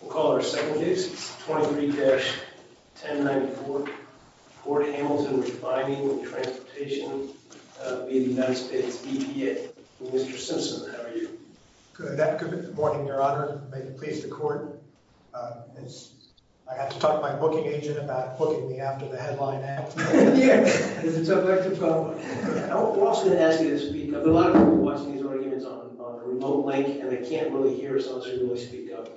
We'll call our second case, 23-1094, Port Hamilton refining and transportation v. US-EPA. Mr. Simpson, how are you? Good morning, your honor. May it please the court. I have to talk to my booking agent about booking me after the headline act. Yeah, it's a tough elective problem. I'm also going to ask you to speak up. A lot of people are watching these arguments on a remote link and they can't really hear us unless we really speak up.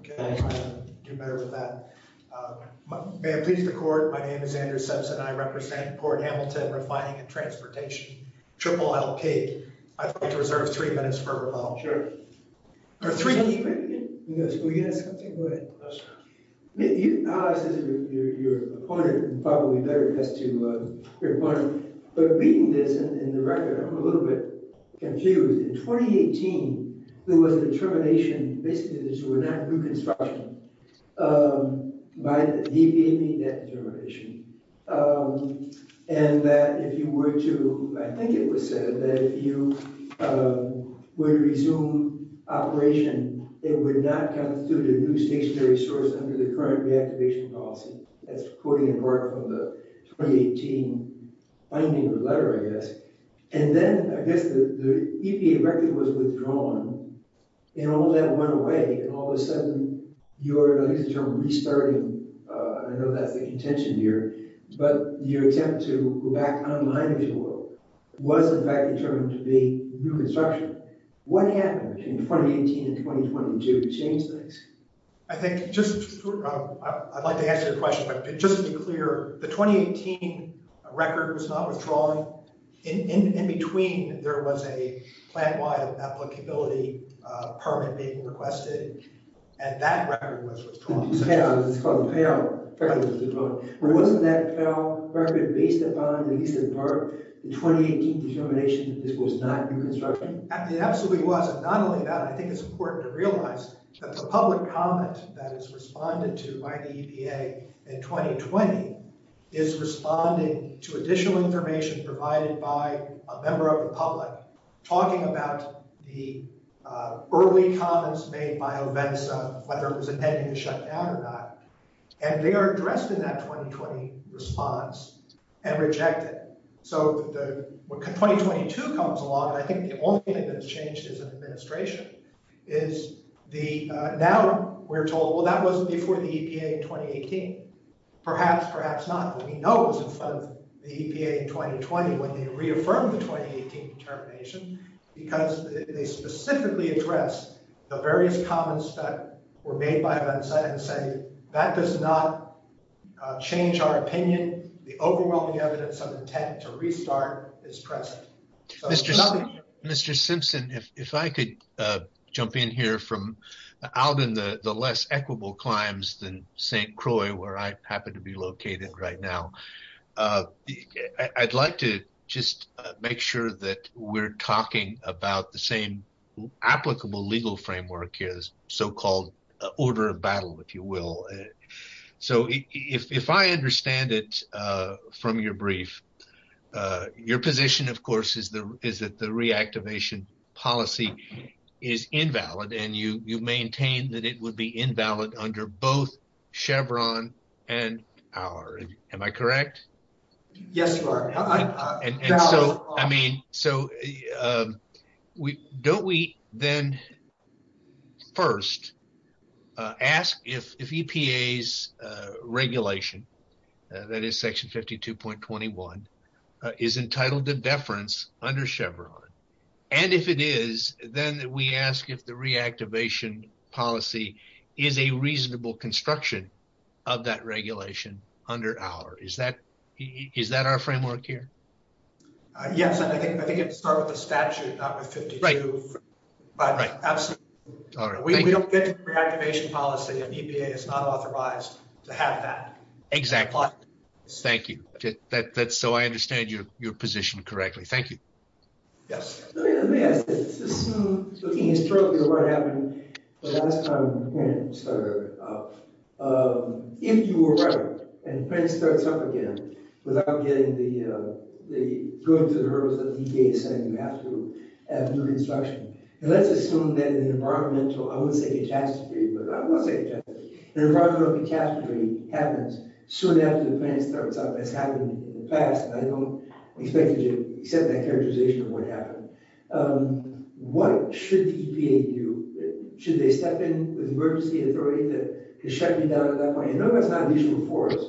Okay, I'll try to do better with that. May it please the court, my name is Andrew Simpson. I represent Port Hamilton refining and transportation, triple LP. I'd like to reserve three minutes for rebuttal. Sure. Are three... Can you repeat it? Yes, will you ask something? Go ahead. No, sir. You, as your opponent, and probably better, it has to, your opponent, but reading this in the record, I'm a little bit confused. In 2018, there was a determination, basically this was not reconstruction, by the EPA made that determination, and that if you were to, I think it was said, that if you were to resume operation, it would not constitute a new stationary source under the current reactivation policy. That's quoting in part from the 2018 binding letter, I guess. And then, I guess, the EPA record was withdrawn, and all of that went away, and all of a sudden, your, I guess the term restarting, I know that's the contention here, but your attempt to go back online, if you will, was in fact determined to be reconstruction. What happened in 2018 and 2022 to change things? I think, just, I'd like to answer your question, but just to be clear, the 2018 record was not withdrawn. In between, there was a plan-wide applicability permit being requested, and that record was withdrawn. It's called the payroll record was withdrawn. Wasn't that payroll record based upon, at least in part, the 2018 determination that this was not reconstruction? It absolutely was, and not only that, I think it's important to realize that the public comment that is responded to by the EPA in 2020 is responding to additional information provided by a member of the public talking about the early comments made by OVENSA, whether it was intended to shut down or not, and they are addressed in that 2020 response and rejected. When 2022 comes along, I think the only thing that has changed as an administration is now we're told, well, that wasn't before the EPA in 2018. Perhaps, perhaps not, but we know it was in front of the EPA in 2020 when they reaffirmed the 2018 determination because they specifically address the various comments that were made by OVENSA and say, that does not change our opinion. The overwhelming evidence of intent to restart is present. Mr. Simpson, if I could jump in here from out in the less equitable climes than St. Croix, where I happen to be located right now, I'd like to just make sure that we're talking about the same applicable legal framework here, so-called order of battle, if you will. So if I understand it from your brief, your position, of course, is that the reactivation policy is invalid, and you maintain that it would be invalid under both Chevron and our. Am I correct? Yes, you are. I mean, so don't we then first ask if EPA's regulation, that is Section 52.21, is entitled to deference under Chevron, and if it is, then we ask if the reactivation policy is a reasonable construction of that regulation under our. Is that our framework here? Yes. I think it would start with the statute, not with 52. Right. Absolutely. We don't get to the reactivation policy if EPA is not authorized to have that. Exactly. Thank you. So I understand your position correctly. Thank you. Yes. Let me ask this. Assume, looking historically at what happened the last time the plant started up, if you were right and the plant starts up again without going to the hurdles that EPA is setting, you have to have new construction. And let's assume that an environmental, I wouldn't say catastrophe, but I will say catastrophe, an environmental catastrophe happens soon after the plant starts up, as happened in the past, and I don't expect you to accept that characterization of what happened. What should EPA do? Should they step in with emergency authority that can shut you down at that point? I know that's not an issue for us,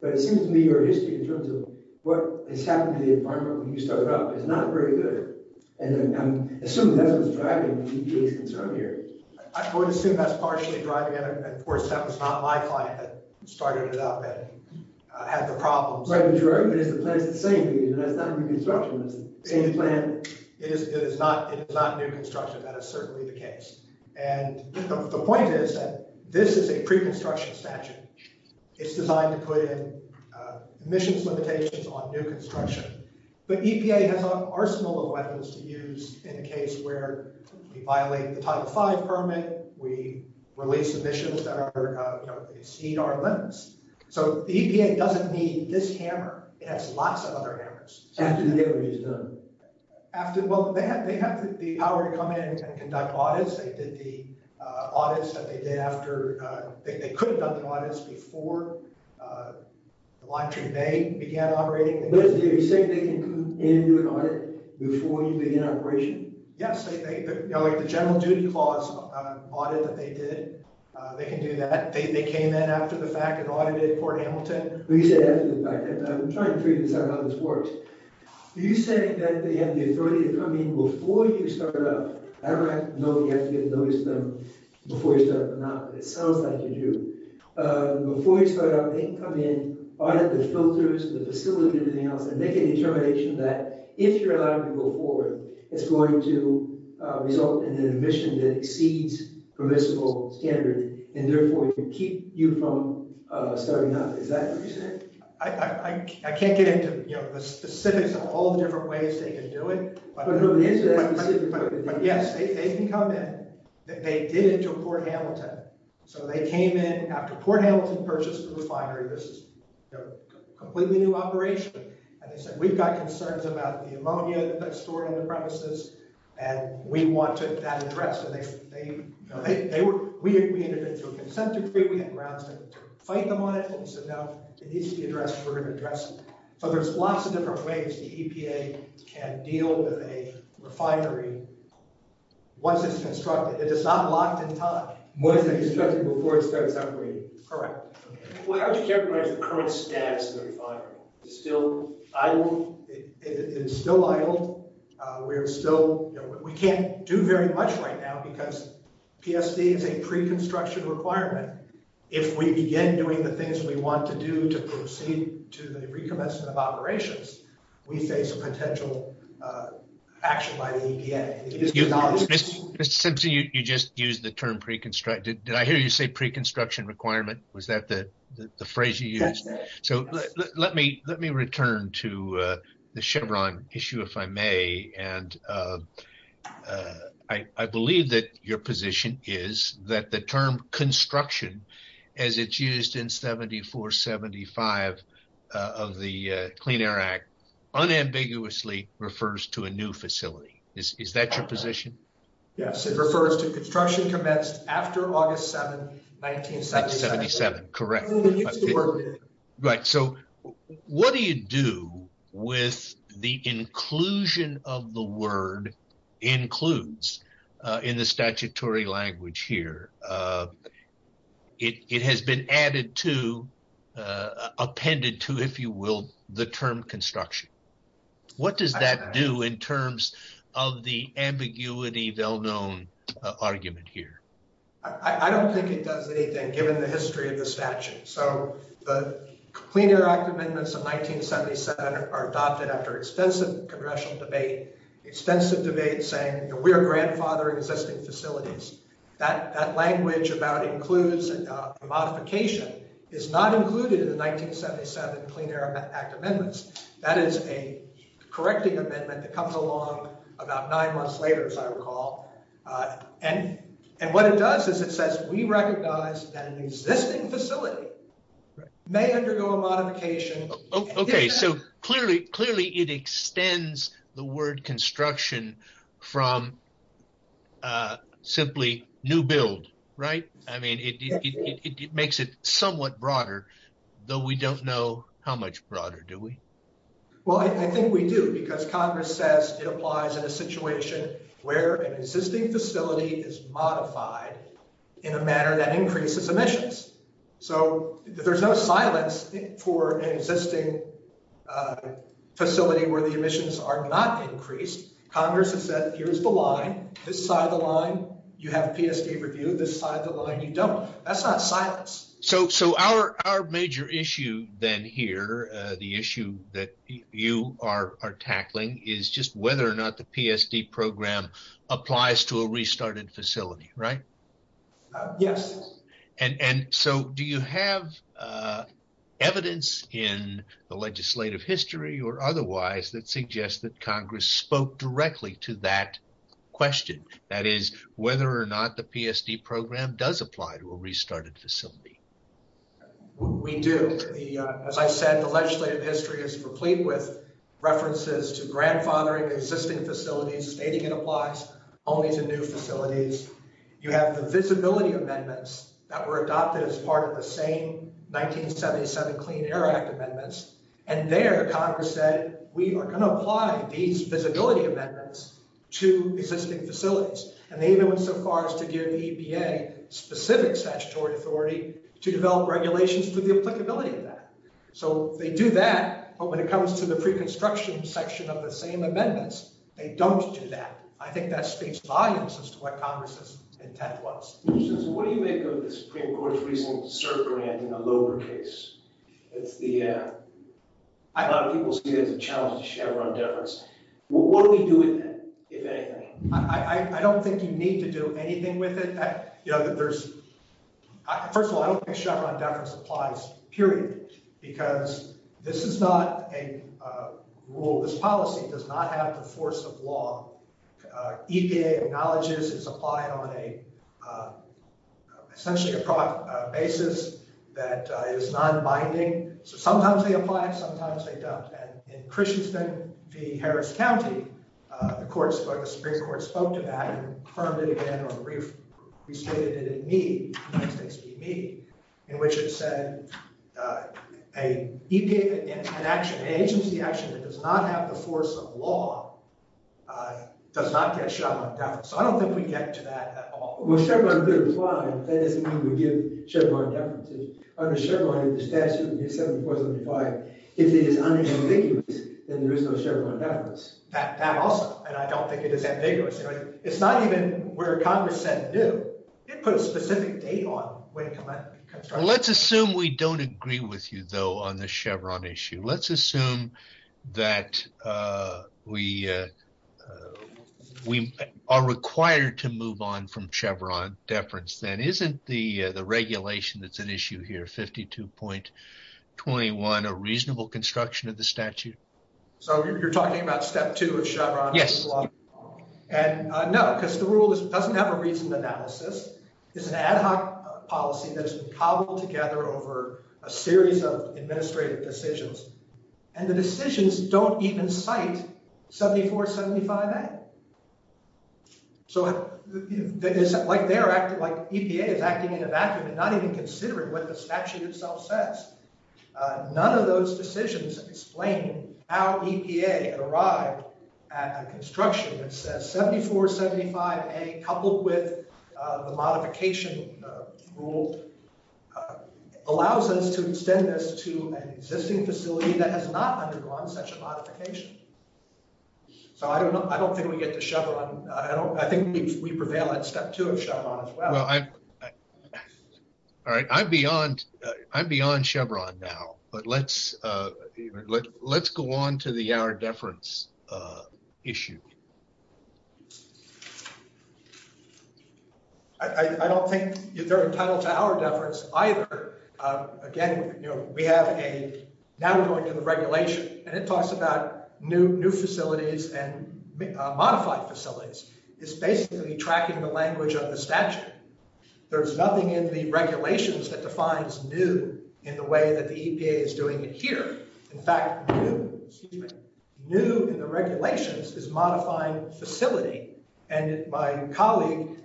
but it seems to me your history, in terms of what has happened to the environment when you started up, is not very good. And I assume that's what's driving EPA's concern here. I'm going to assume that's partially driving it. Of course, that was not my client that started it up and had the problems. Right, but you're right. The plant's the same. It's not a new construction. It's the same plant. It is not new construction. That is certainly the case. And the point is that this is a pre-construction statute. It's designed to put in emissions limitations on new construction. But EPA has an arsenal of weapons to use in a case where we violate the Title V permit, we release emissions that exceed our limits. So the EPA doesn't need this hammer. It has lots of other hammers. After the audit is done? Well, they have the power to come in and conduct audits. They did the audits that they did after. They could have done the audits before the line 2A began operating. But you're saying they can come in and do an audit before you begin operation? Yes. The General Duty Clause audit that they did, they can do that. They came in after the fact and audited Port Hamilton? Well, you said after the fact. I'm trying to figure this out how this works. Are you saying that they have the authority to come in before you start up? I don't know if you have to get a notice from them before you start up or not, but it sounds like you do. Before you start up, they can come in, audit the filters, the facility, everything else, and make a determination that if you're allowed to go forward, it's going to result in an emission that exceeds permissible standards and, therefore, can keep you from starting up. Is that what you're saying? I can't get into the specifics of all the different ways they can do it. But who is that? Yes, they can come in. They did it to Port Hamilton. So they came in after Port Hamilton purchased the refinery. This is a completely new operation. And they said, we've got concerns about the ammonia that's stored in the premises, and we want that addressed. And we intervened through a consent decree. We had grounds to fight them on it. So now it needs to be addressed. We're going to address it. So there's lots of different ways the EPA can deal with a refinery once it's constructed. It is not locked in time. Once it's constructed before it starts operating. Correct. Well, how would you characterize the current status of the refinery? Is it still idle? It is still idle. We can't do very much right now because PSD is a pre-construction requirement. If we begin doing the things we want to do to proceed to the recommencement of operations, we face a potential action by the EPA. Mr. Simpson, you just used the term pre-construction. Did I hear you say pre-construction requirement? Was that the phrase you used? Let me return to the Chevron issue, if I may. And I believe that your position is that the term construction, as it's used in 74-75 of the Clean Air Act, unambiguously refers to a new facility. Is that your position? Yes, it refers to construction commenced after August 7, 1977. Correct. Right. So what do you do with the inclusion of the word includes in the statutory language here? It has been added to, appended to, if you will, the term construction. What does that do in terms of the ambiguity well-known argument here? I don't think it does anything, given the history of the statute. So the Clean Air Act amendments of 1977 are adopted after extensive congressional debate, extensive debate saying we are grandfathering existing facilities. That language about includes modification is not included in the 1977 Clean Air Act amendments. That is a correcting amendment that comes along about nine months later, as I recall. And what it does is it says we recognize that an existing facility may undergo a modification. Okay, so clearly it extends the word construction from simply new build, right? I mean, it makes it somewhat broader, though we don't know how much broader, do we? Well, I think we do because Congress says it applies in a situation where an existing facility is modified in a manner that increases emissions. So there's no silence for an existing facility where the emissions are not increased. Congress has said, here's the line, this side of the line, you have a PSD review, this side of the line you don't. That's not silence. So our major issue then here, the issue that you are tackling is just whether or not the PSD program applies to a restarted facility, right? Yes. And so do you have evidence in the legislative history or otherwise that suggests that Congress spoke directly to that question? That is, whether or not the PSD program does apply to a restarted facility? We do. As I said, the legislative history is replete with references to grandfathering existing facilities, stating it applies only to new facilities. You have the visibility amendments that were adopted as part of the same 1977 Clean Air Act amendments. And there Congress said, we are going to apply these visibility amendments to existing facilities. And they even went so far as to give the EPA specific statutory authority to develop regulations for the applicability of that. So they do that. But when it comes to the pre-construction section of the same amendments, they don't do that. And I think that speaks volumes as to what Congress's intent was. What do you make of the Supreme Court's recent cert grant in the Loeber case? A lot of people see it as a challenge to Chevron deference. What do we do with that, if anything? I don't think you need to do anything with it. First of all, I don't think Chevron deference applies, period. Because this is not a rule. This policy does not have the force of law. EPA acknowledges it's applied on essentially a basis that is non-binding. So sometimes they apply. Sometimes they don't. And in Christianson v. Harris County, the Supreme Court spoke to that and confirmed it again or restated it in Mead, in which it said an agency action that does not have the force of law does not get Chevron deference. So I don't think we get to that at all. Well, Chevron could apply. But that doesn't mean we give Chevron deference. Under Chevron, if the statute is 7475, if it is unambiguous, then there is no Chevron deference. That also. And I don't think it is ambiguous. It's not even where Congress said it knew. It put a specific date on when it came out. Let's assume we don't agree with you, though, on the Chevron issue. Let's assume that we are required to move on from Chevron deference, then. Isn't the regulation that's at issue here, 52.21, a reasonable construction of the statute? So you're talking about step two of Chevron? Yes. And no, because the rule doesn't have a reasoned analysis. It's an ad hoc policy that has been cobbled together over a series of administrative decisions. And the decisions don't even cite 7475A. So it's like EPA is acting in a vacuum and not even considering what the statute itself says. None of those decisions explain how EPA arrived at a construction that says 7475A, coupled with the modification rule, allows us to extend this to an existing facility that has not undergone such a modification. So I don't think we get to Chevron. I think we prevail at step two of Chevron as well. Well, all right, I'm beyond Chevron now. But let's go on to the hour deference issue. I don't think they're entitled to hour deference either. Now we're going to the regulation. And it talks about new facilities and modified facilities. It's basically tracking the language of the statute. There's nothing in the regulations that defines new in the way that the EPA is doing it here. In fact, new in the regulations is modifying facility. And my colleague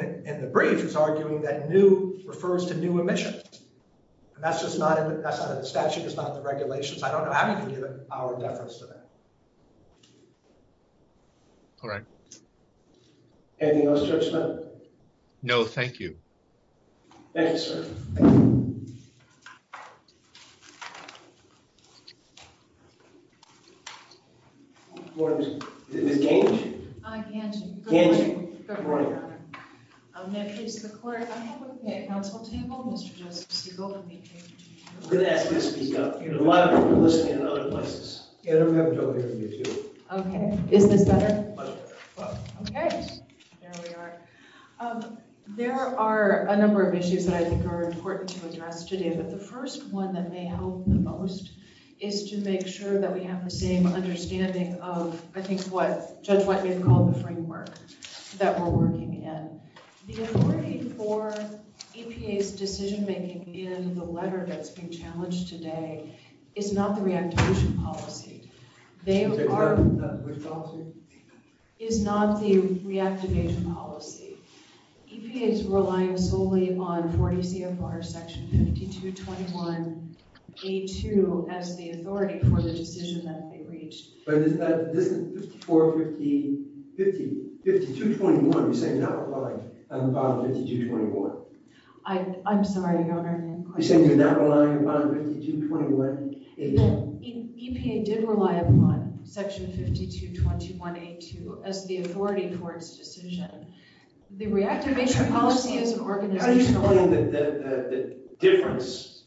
in the brief is arguing that new refers to new emissions. And that's just not in the statute. It's not in the regulations. I don't know how you can give an hour deference to that. All right. Anything else, Judge Smith? No, thank you. Thank you, sir. Thank you. Good morning. Is this Gange? Gange. Gange. Good morning. I'm going to introduce the clerk. I have with me a council table. Mr. Justice Siegel. I'm going to ask you to speak up. A lot of people are listening in other places. Yeah, I don't have Joe here with me, too. Okay. Is this better? Much better. Okay. There we are. There are a number of issues that I think are important to address today. But the first one that may help the most is to make sure that we have the same understanding of, I think, what Judge Whiteman called the framework that we're working in. The authority for EPA's decision-making in the letter that's being challenged today is not the reactivation policy. Is that correct? Is not the reactivation policy. EPA is relying solely on 40 CFR section 5221A2 as the authority for the decision that they reached. But isn't 54, 5221, you're saying not relying on 5221. I'm sorry, Your Honor. You're saying you're not relying on 5221A2. EPA did rely upon section 5221A2 as the authority for its decision. The reactivation policy is an organizational one. Are you saying that the difference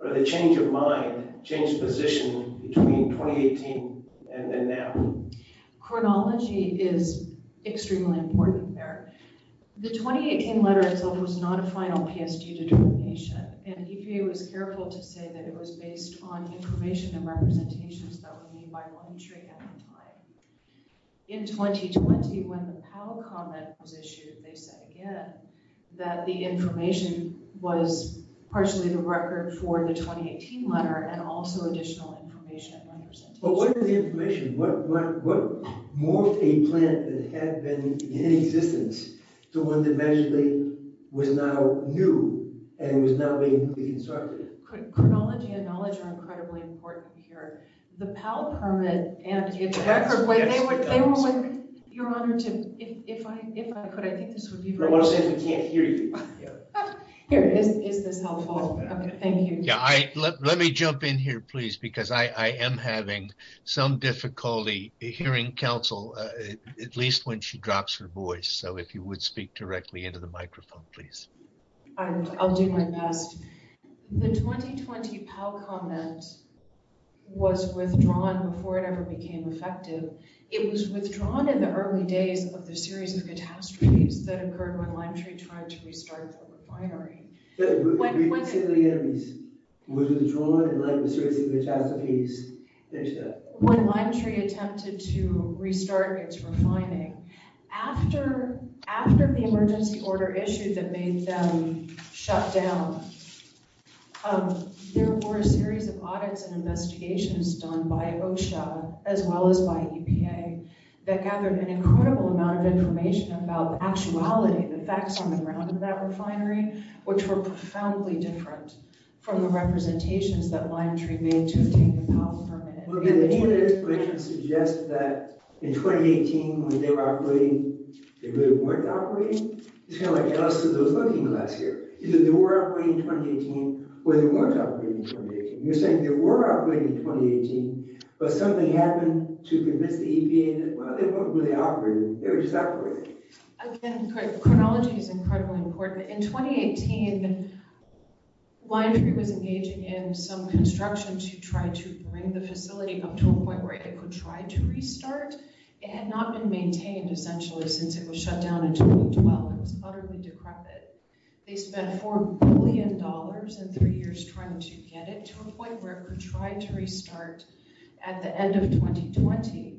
or the change of mind changed position between 2018 and then now? Chronology is extremely important there. The 2018 letter itself was not a final PSG determination. And EPA was careful to say that it was based on information and representations that were made by one tree at a time. In 2020, when the Powell comment was issued, they said again that the information was partially the record for the 2018 letter and also additional information and representations. But what is the information? What morphed a plant that had been in existence to one that actually was now new and was now being reconstructed? Chronology and knowledge are incredibly important here. The Powell permit and the record, they were when, Your Honor, if I could, I think this would be very useful. I want to say we can't hear you. Here, is this helpful? Thank you. Yeah, let me jump in here, please, because I am having some difficulty hearing counsel, at least when she drops her voice. So if you would speak directly into the microphone, please. I'll do my best. The 2020 Powell comment was withdrawn before it ever became effective. It was withdrawn in the early days of the series of catastrophes that occurred when Lime Tree tried to restart the refinery. When Lime Tree attempted to restart its refining, after the emergency order issue that made them shut down, there were a series of audits and investigations done by OSHA, as well as by EPA, that gathered an incredible amount of information about the actuality, the facts on the ground of that refinery, which were profoundly different from the representations that Lime Tree made to obtain the Powell permit. Well, again, many of the explanations suggest that in 2018 when they were operating, they really weren't operating. It's kind of like the rest of those looking glass here. Either they were operating in 2018, or they weren't operating in 2018. You're saying they were operating in 2018, but something happened to convince the EPA that, well, they weren't really operating. They were just operating. Again, chronology is incredibly important. In 2018, Lime Tree was engaging in some construction to try to bring the facility up to a point where it could try to restart. It had not been maintained, essentially, since it was shut down in 2012. It was utterly decrepit. They spent $4 billion in three years trying to get it to a point where it could try to restart at the end of 2020.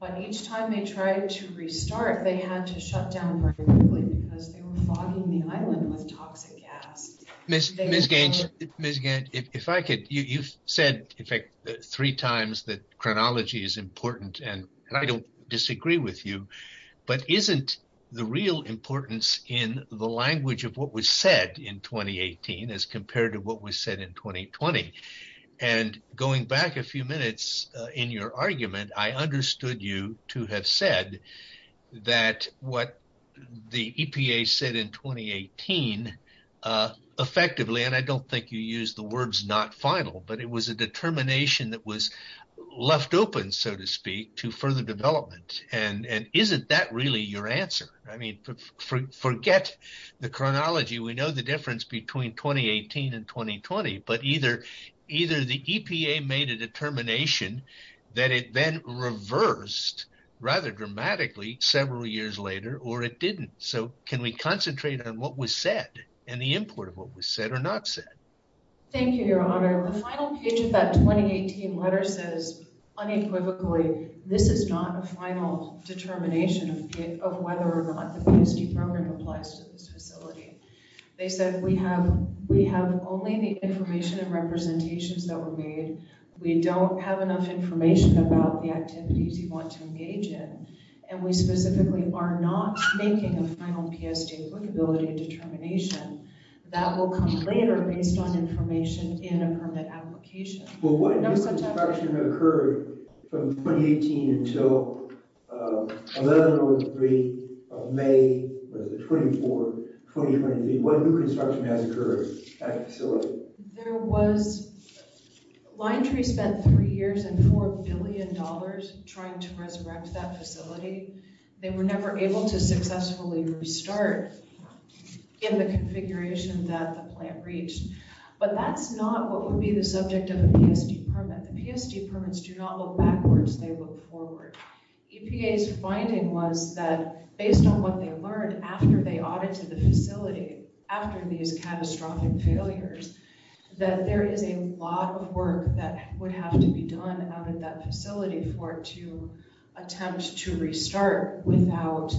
But each time they tried to restart, they had to shut down very quickly because they were fogging the island with toxic gas. Ms. Gange, if I could, you've said, in fact, three times that chronology is important. And I don't disagree with you, but isn't the real importance in the language of what was said in 2018 as compared to what was said in 2020? And going back a few minutes in your argument, I understood you to have said that what the EPA said in 2018, effectively, and I don't think you used the words not final, but it was a determination that was left open, so to speak, to further development. And isn't that really your answer? I mean, forget the chronology. We know the difference between 2018 and 2020, but either the EPA made a determination that it then reversed rather dramatically several years later, or it didn't. So can we concentrate on what was said and the import of what was said or not said? Thank you, Your Honor. The final page of that 2018 letter says unequivocally, this is not a final determination of whether or not the PSD program applies to this facility. They said we have only the information and representations that were made. We don't have enough information about the activities you want to engage in. And we specifically are not making a final PSD applicability determination that will come later based on information in a permit application. Well, what new construction occurred from 2018 until 11-03 of May, was it 24, 2023? What new construction has occurred at the facility? There was, Lion Tree spent three years and $4 billion trying to resurrect that facility. They were never able to successfully restart in the configuration that the plant reached. But that's not what would be the subject of a PSD permit. The PSD permits do not look backwards, they look forward. EPA's finding was that based on what they learned after they audited the facility, after these catastrophic failures, that there is a lot of work that would have to be done out at that facility for it to attempt to restart without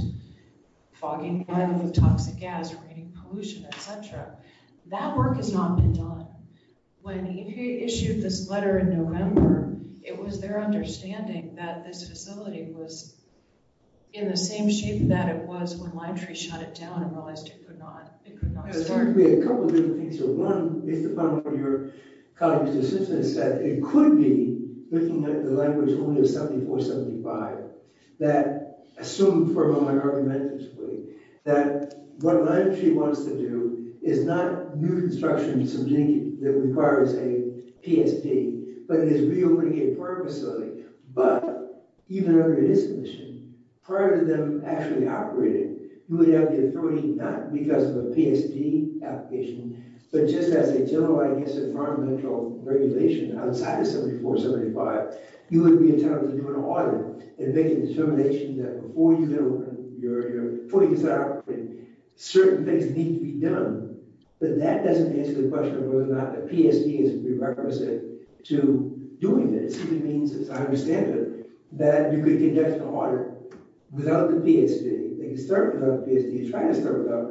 fogging it up with toxic gas, creating pollution, et cetera. That work has not been done. When EPA issued this letter in November, it was their understanding that this facility was in the same shape that it was when Lion Tree shut it down and realized it could not start. There seems to be a couple of different things here. One, based upon what your colleague's assistant said, that it could be looking at the language only of 7475, that assumed for a moment argumentatively, that what Lion Tree wants to do is not new construction subjugate that requires a PSD, but is reopening a permit facility. But even under this condition, prior to them actually operating, you would have the authority not because of a PSD application, but just as a general, I guess, environmental regulation, outside of 7475, you would be entitled to do an audit and make a determination that before you do, you're putting this out, certain things need to be done. But that doesn't answer the question of whether or not the PSD is prerequisite to doing this. It simply means, as I understand it, that you could conduct an audit without the PSD. They could start without the PSD, try to start without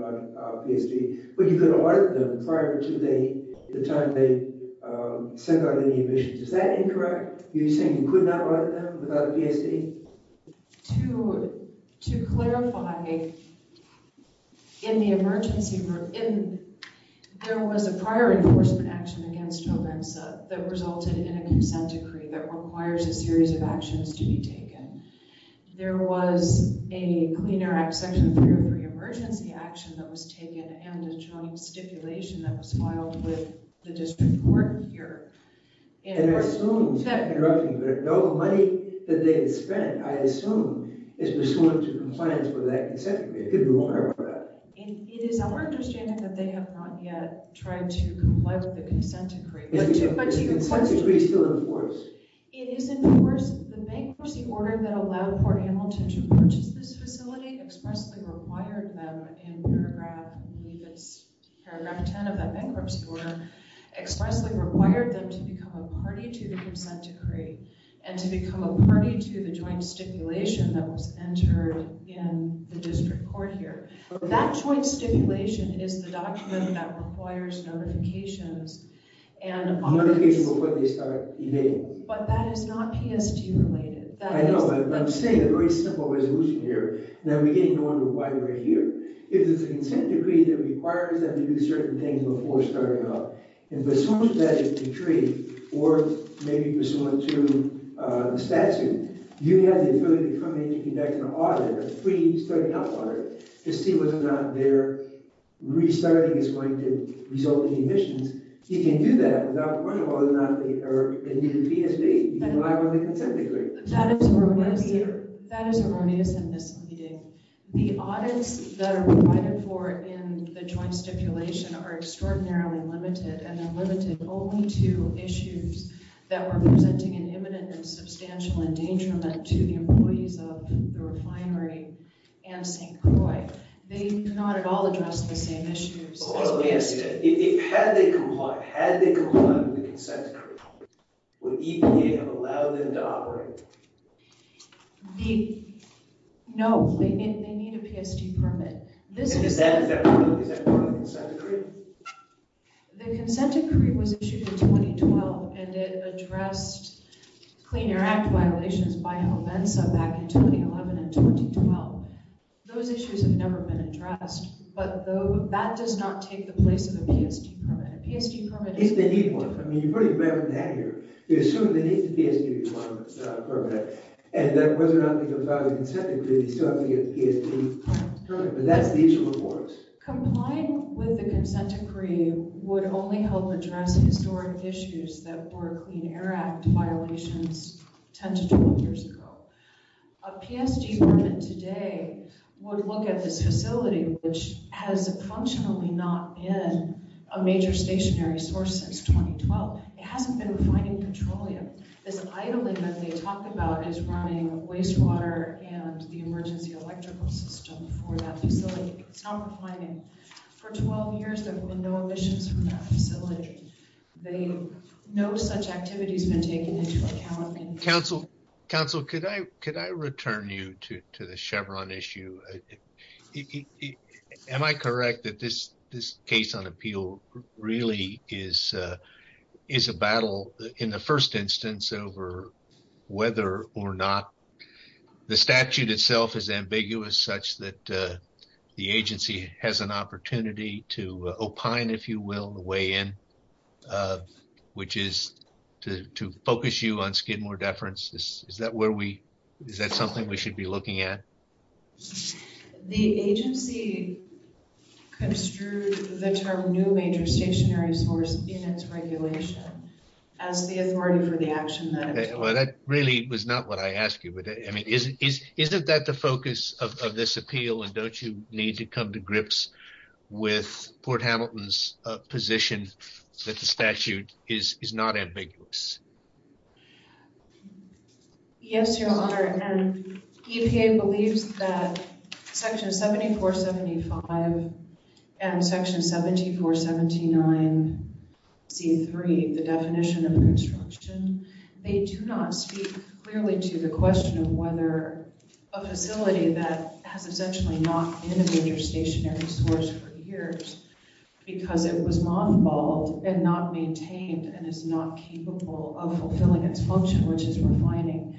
the PSD, but you could audit them prior to the time they send out any emissions. Is that incorrect? Are you saying you could not audit them without a PSD? To clarify, in the emergency room, there was a prior enforcement action against Jovensa that resulted in a consent decree that requires a series of actions to be taken. There was a Clean Air Act Section 303 emergency action that was taken, and a joint stipulation that was filed with the district court here. And I assume, without interrupting you, that all the money that they had spent, I assume, is pursuant to compliance with that consent decree. It could be longer than that. It is our understanding that they have not yet tried to comply with the consent decree. The consent decree is still in force. It is in force. The bankruptcy order that allowed Port Hamilton to purchase this facility expressly required them in paragraph 10 of that bankruptcy order, expressly required them to become a party to the consent decree, and to become a party to the joint stipulation that was entered in the district court here. That joint stipulation is the document that requires notifications. Notifications before they start evading. But that is not PSD related. I know, but I'm saying a very simple resolution here. And I'm beginning to wonder why we're here. If there's a consent decree that requires them to do certain things before starting up, and pursuant to that decree, or maybe pursuant to the statute, you have the ability to come in and conduct an audit, a free study help audit, to see whether or not their restarting is going to result in emissions. You can do that without a problem, whether or not they need a PSD. You can rely on the consent decree. That is erroneous and misleading. The audits that are provided for in the joint stipulation are extraordinarily limited, and they're limited only to issues that were presenting an imminent and substantial endangerment to the employees of the refinery and St. Croix. They do not at all address the same issues as PSD. Had they complied with the consent decree, would EPA have allowed them to operate? No, they need a PSD permit. Is that part of the consent decree? The consent decree was issued in 2012, and it addressed Clean Air Act violations by Homensa back in 2011 and 2012. Those issues have never been addressed, but that does not take the place of a PSD permit. They need one. You probably remember that here. They assume they need the PSD permit, and whether or not they comply with the consent decree, they still have to get the PSD permit, but that's the issue of awards. Complying with the consent decree would only help address historic issues that were Clean Air Act violations 10 to 12 years ago. A PSD permit today would look at this facility, which has functionally not been a major stationary source since 2012. It hasn't been refining petroleum. This idling that they talk about is running wastewater and the emergency electrical system for that facility. It's not refining. For 12 years, there have been no emissions from that facility. No such activity has been taken into account. Council, could I return you to the Chevron issue? Am I correct that this case on appeal really is a battle, in the first instance, over whether or not the statute itself is ambiguous, such that the agency has an opportunity to opine, if you will, on the way in, which is to focus you on Skidmore deference? Is that something we should be looking at? The agency construed the term new major stationary source in its regulation as the authority for the action that it took. That really was not what I asked you. Isn't that the focus of this appeal, and don't you need to come to grips with Port Hamilton's position that the statute is not ambiguous? Yes, Your Honor. EPA believes that Section 7475 and Section 7479C3, the definition of construction, they do not speak clearly to the question of whether a facility that has essentially not been a major stationary source for years because it was mothballed and not maintained and is not capable of fulfilling its function, which is refining.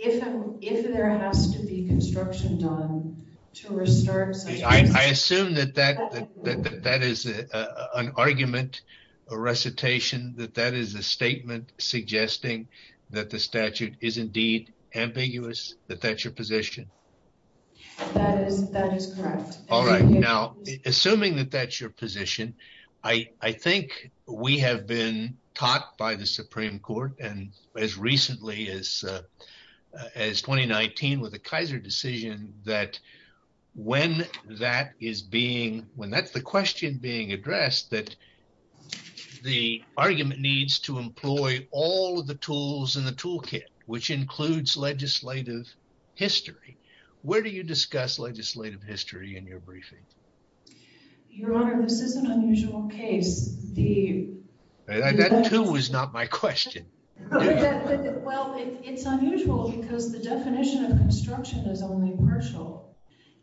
If there has to be construction done to restart such a facility... I assume that that is an argument, a recitation, that that is a statement suggesting that the statute is indeed ambiguous, that that's your position? That is correct. All right. Now, assuming that that's your position, I think we have been taught by the Supreme Court, and as recently as 2019 with the Kaiser decision, that when that is being... when that's the question being addressed, that the argument needs to employ all of the tools in the toolkit, which includes legislative history. Where do you discuss legislative history in your briefing? Your Honor, this is an unusual case. That too was not my question. Well, it's unusual because the definition of construction is only partial.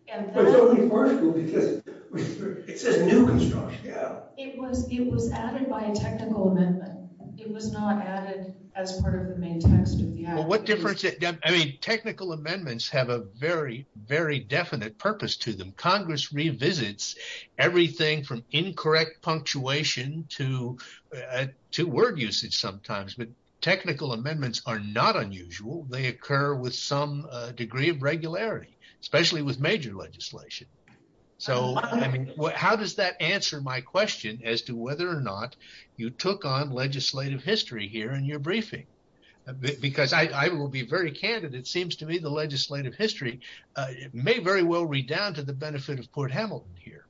It's only partial because it says new construction. It was added by a technical amendment. It was not added as part of the main text of the application. Well, what difference... I mean, technical amendments have a very, very definite purpose to them. Congress revisits everything from incorrect punctuation to word usage sometimes, but technical amendments are not unusual. They occur with some degree of regularity, especially with major legislation. So how does that answer my question as to whether or not you took on legislative history here in your briefing? Because I will be very candid. It seems to me the legislative history may very well redound to the benefit of Port Hamilton here.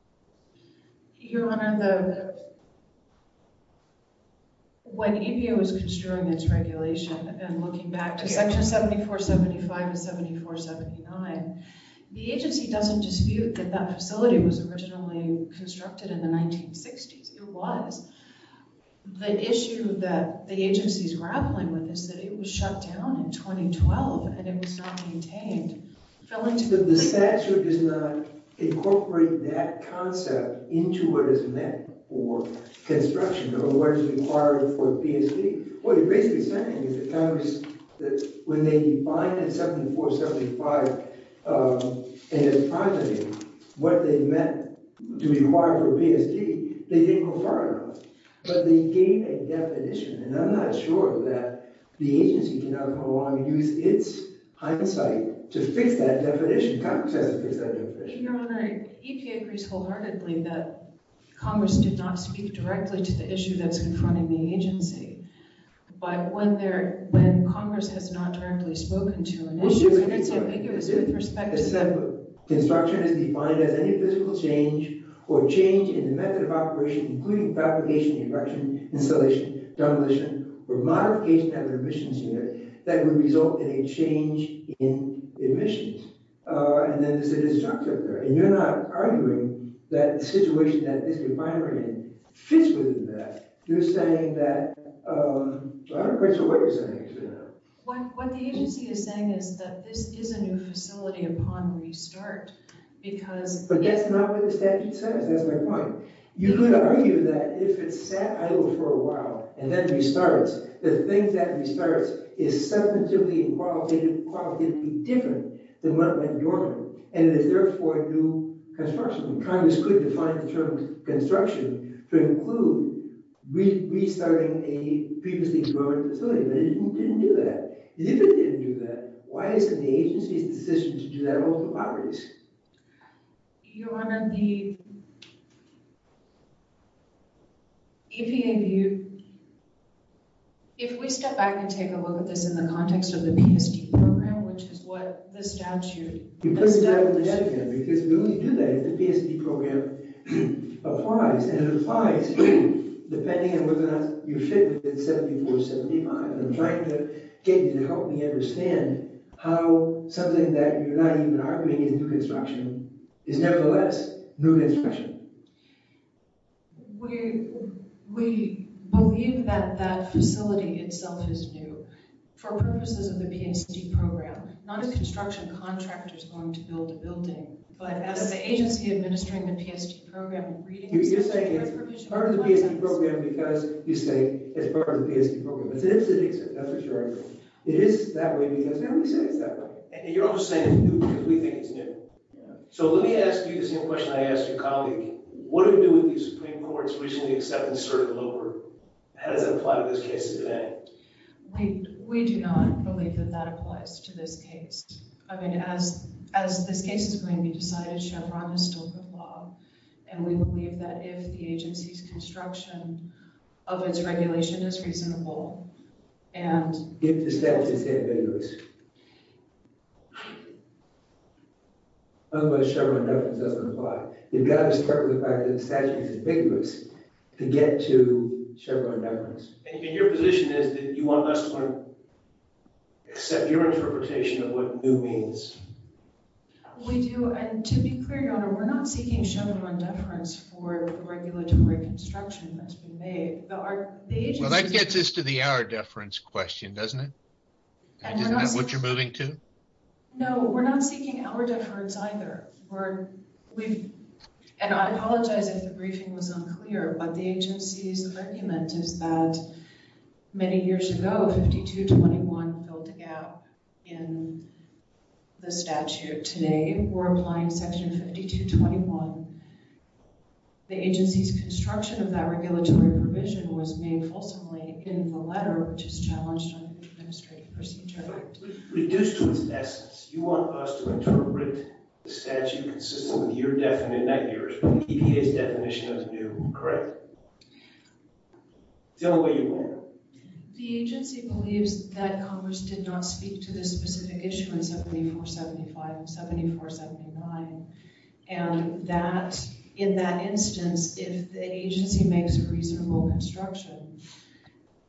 Your Honor, when EPA was construing its regulation and looking back to Section 7475 and 7479, the agency doesn't dispute that that facility was originally constructed in the 1960s. It was. The issue that the agency's grappling with is that it was shut down in 2012 and it was not maintained. But the statute does not incorporate that concept into what is meant for construction or what is required for PSP. What you're basically saying is that Congress, when they defined 7475 and its progeny, what they meant to require for PSP, they didn't go far enough. But they gave a definition, and I'm not sure that the agency can now go along and use its hindsight to fix that definition. Congress has to fix that definition. Your Honor, EPA agrees wholeheartedly that Congress did not speak directly to the issue that's confronting the agency. But when Congress has not directly spoken to an issue, and it's ambiguous in perspective. Construction is defined as any physical change or change in the method of operation, including fabrication, erection, installation, demolition, or modification of an admissions unit that would result in a change in admissions. And then there's a disjunctive there. And you're not arguing that the situation that this refinery fits within that. You're saying that – I'm not quite sure what you're saying. What the agency is saying is that this is a new facility upon restart because – But that's not what the statute says. That's my point. You could argue that if it sat idle for a while and then restarts, the thing that restarts is subjectively and qualitatively different than what went normally. And it is therefore a new construction. Congress could define the term construction to include restarting a previously demolished facility. But it didn't do that. If it didn't do that, why is it the agency's decision to do that over the properties? Your Honor, the EPA view – if we step back and take a look at this in the context of the PSD program, which is what the statute – Because we only do that if the PSD program applies. And it applies, too, depending on whether or not you fit within 74 or 75. I'm trying to get you to help me understand how something that you're not even arguing is new construction is nevertheless new construction. We believe that that facility itself is new for purposes of the PSD program, not a construction contractor is going to build a building. But as an agency administering the PSD program, reading the statute or provision – You're saying it's part of the PSD program because you say it's part of the PSD program. It is an exception. That's what you're arguing. It is that way because everybody says it's that way. And you're also saying it's new because we think it's new. So let me ask you the same question I asked your colleague. What do we do with the Supreme Court's recently accepted cert lower? How does that apply to this case today? We do not believe that that applies to this case. I mean, as this case is going to be decided, Chevron is still good law. And we believe that if the agency's construction of its regulation is reasonable and – If the statute is ambiguous. Unless Chevron never does apply. You've got to start with the fact that the statute is ambiguous to get to Chevron never. And your position is that you want us to accept your interpretation of what new means. We do. And to be clear, Your Honor, we're not seeking Chevron deference for the regulatory construction that's been made. Well, that gets us to the our deference question, doesn't it? Isn't that what you're moving to? No, we're not seeking our deference either. And I apologize if the briefing was unclear, but the agency's argument is that many years ago, 5221 filled the gap in the statute. Today, we're applying Section 5221. The agency's construction of that regulatory provision was made fulsomely in the letter, which is challenged under the Administrative Procedure Act. Reduced to its essence, you want us to interpret the statute consistent with your definition in that year's EPA's definition of new. Correct? Tell them where you were. The agency believes that Congress did not speak to this specific issue in 7475 and 7479, and that in that instance, if the agency makes a reasonable construction,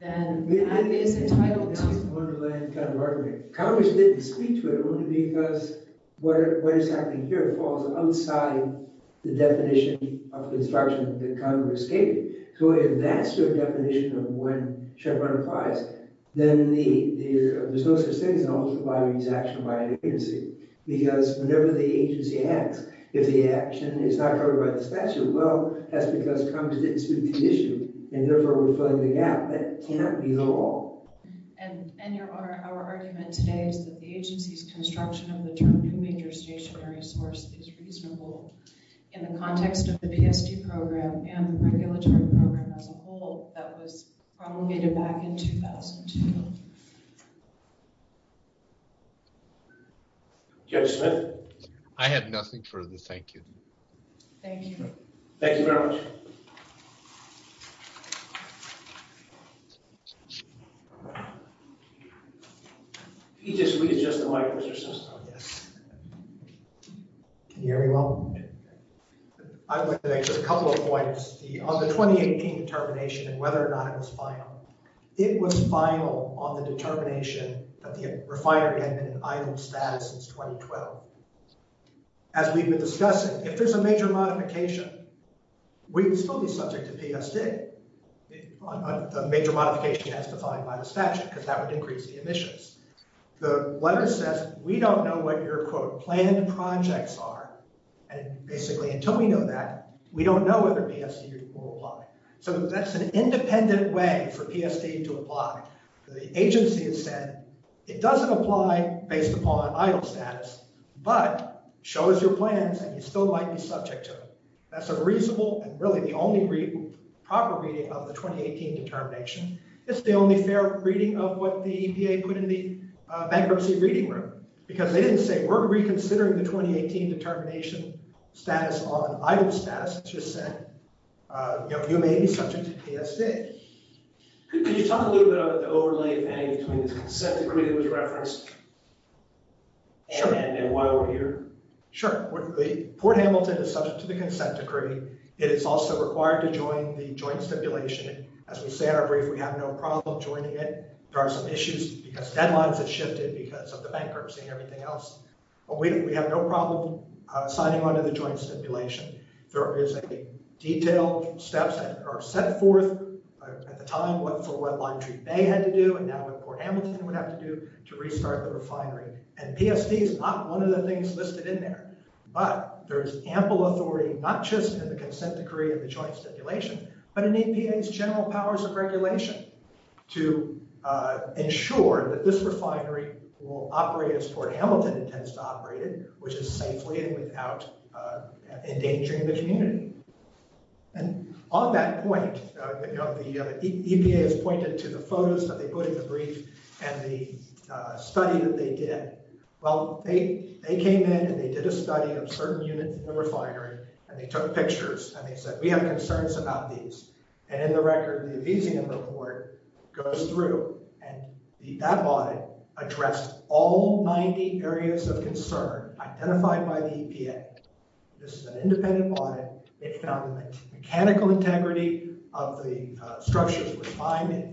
then that is entitled to... That's the wonderland kind of argument. Congress didn't speak to it only because what is happening here falls outside the definition of construction that Congress gave. So if that's your definition of when Chevron applies, then there's no such thing as an alternative to why we use action by the agency, because whenever the agency acts, if the action is not covered by the statute, well, that's because Congress didn't speak to the issue, and therefore, we're filling the gap. That cannot be the law. And our argument today is that the agency's construction of the term new major stationary source is reasonable in the context of the PSD program and the regulatory program as a whole that was promulgated back in 2002. Judge Smith? I have nothing further to thank you. Thank you. Thank you very much. Can you just readjust the mic, Mr. Sesto? Yes. Can you hear me well? I'd like to make just a couple of points. On the 2018 determination and whether or not it was final, it was final on the determination that the refinery had been in idle status since 2012. As we've been discussing, if there's a major modification, we would still be subject to PSD, a major modification as defined by the statute, because that would increase the emissions. The letter says, we don't know what your, quote, planned projects are. And basically, until we know that, we don't know whether PSD will apply. So that's an independent way for PSD to apply. The agency has said, it doesn't apply based upon idle status, but show us your plans, and you still might be subject to it. That's a reasonable and really the only proper reading of the 2018 determination. It's the only fair reading of what the EPA put in the bankruptcy reading room, because they didn't say, we're reconsidering the 2018 determination status on idle status. It just said, you may be subject to PSD. Can you talk a little bit about the overlay thing between this consent decree that was referenced and why we're here? Sure. Port Hamilton is subject to the consent decree. It is also required to join the joint stipulation. As we say in our brief, we have no problem joining it. There are some issues, because deadlines have shifted because of the bankruptcy and everything else. But we have no problem signing on to the joint stipulation. There is a detailed steps that are set forth at the time, what Full Red Line Treat Bay had to do, and now what Port Hamilton would have to do to restart the refinery. And PSD is not one of the things listed in there. But there is ample authority, not just in the consent decree and the joint stipulation, but in EPA's general powers of regulation to ensure that this refinery will operate as Port Hamilton intends to operate it, which is safely and without endangering the community. And on that point, the EPA has pointed to the photos that they put in the brief and the study that they did. Well, they came in and they did a study of certain units in the refinery. And they took pictures. And they said, we have concerns about these. And in the record, the Elysium report goes through. And that audit addressed all 90 areas of concern identified by the EPA. This is an independent audit. It found the mechanical integrity of the structures of the refinery.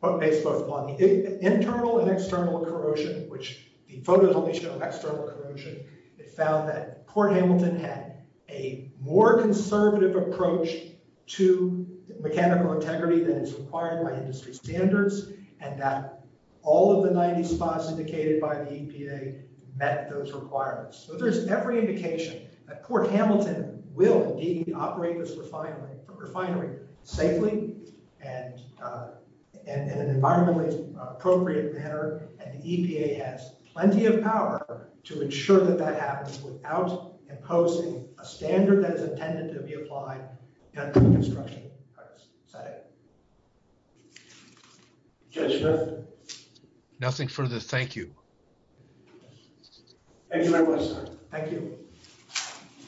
But based both on the internal and external corrosion, which the photos only show external corrosion, it found that Port Hamilton had a more conservative approach to mechanical integrity than is required by industry standards, and that all of the 90 spots indicated by the EPA met those requirements. So there's every indication that Port Hamilton will indeed operate this refinery safely and in an environmentally appropriate manner. And the EPA has plenty of power to ensure that that happens without imposing a standard that is intended to be applied under the construction practice. Is that it? Yes, sir. Nothing further. Thank you. Thank you very much, sir. Thank you.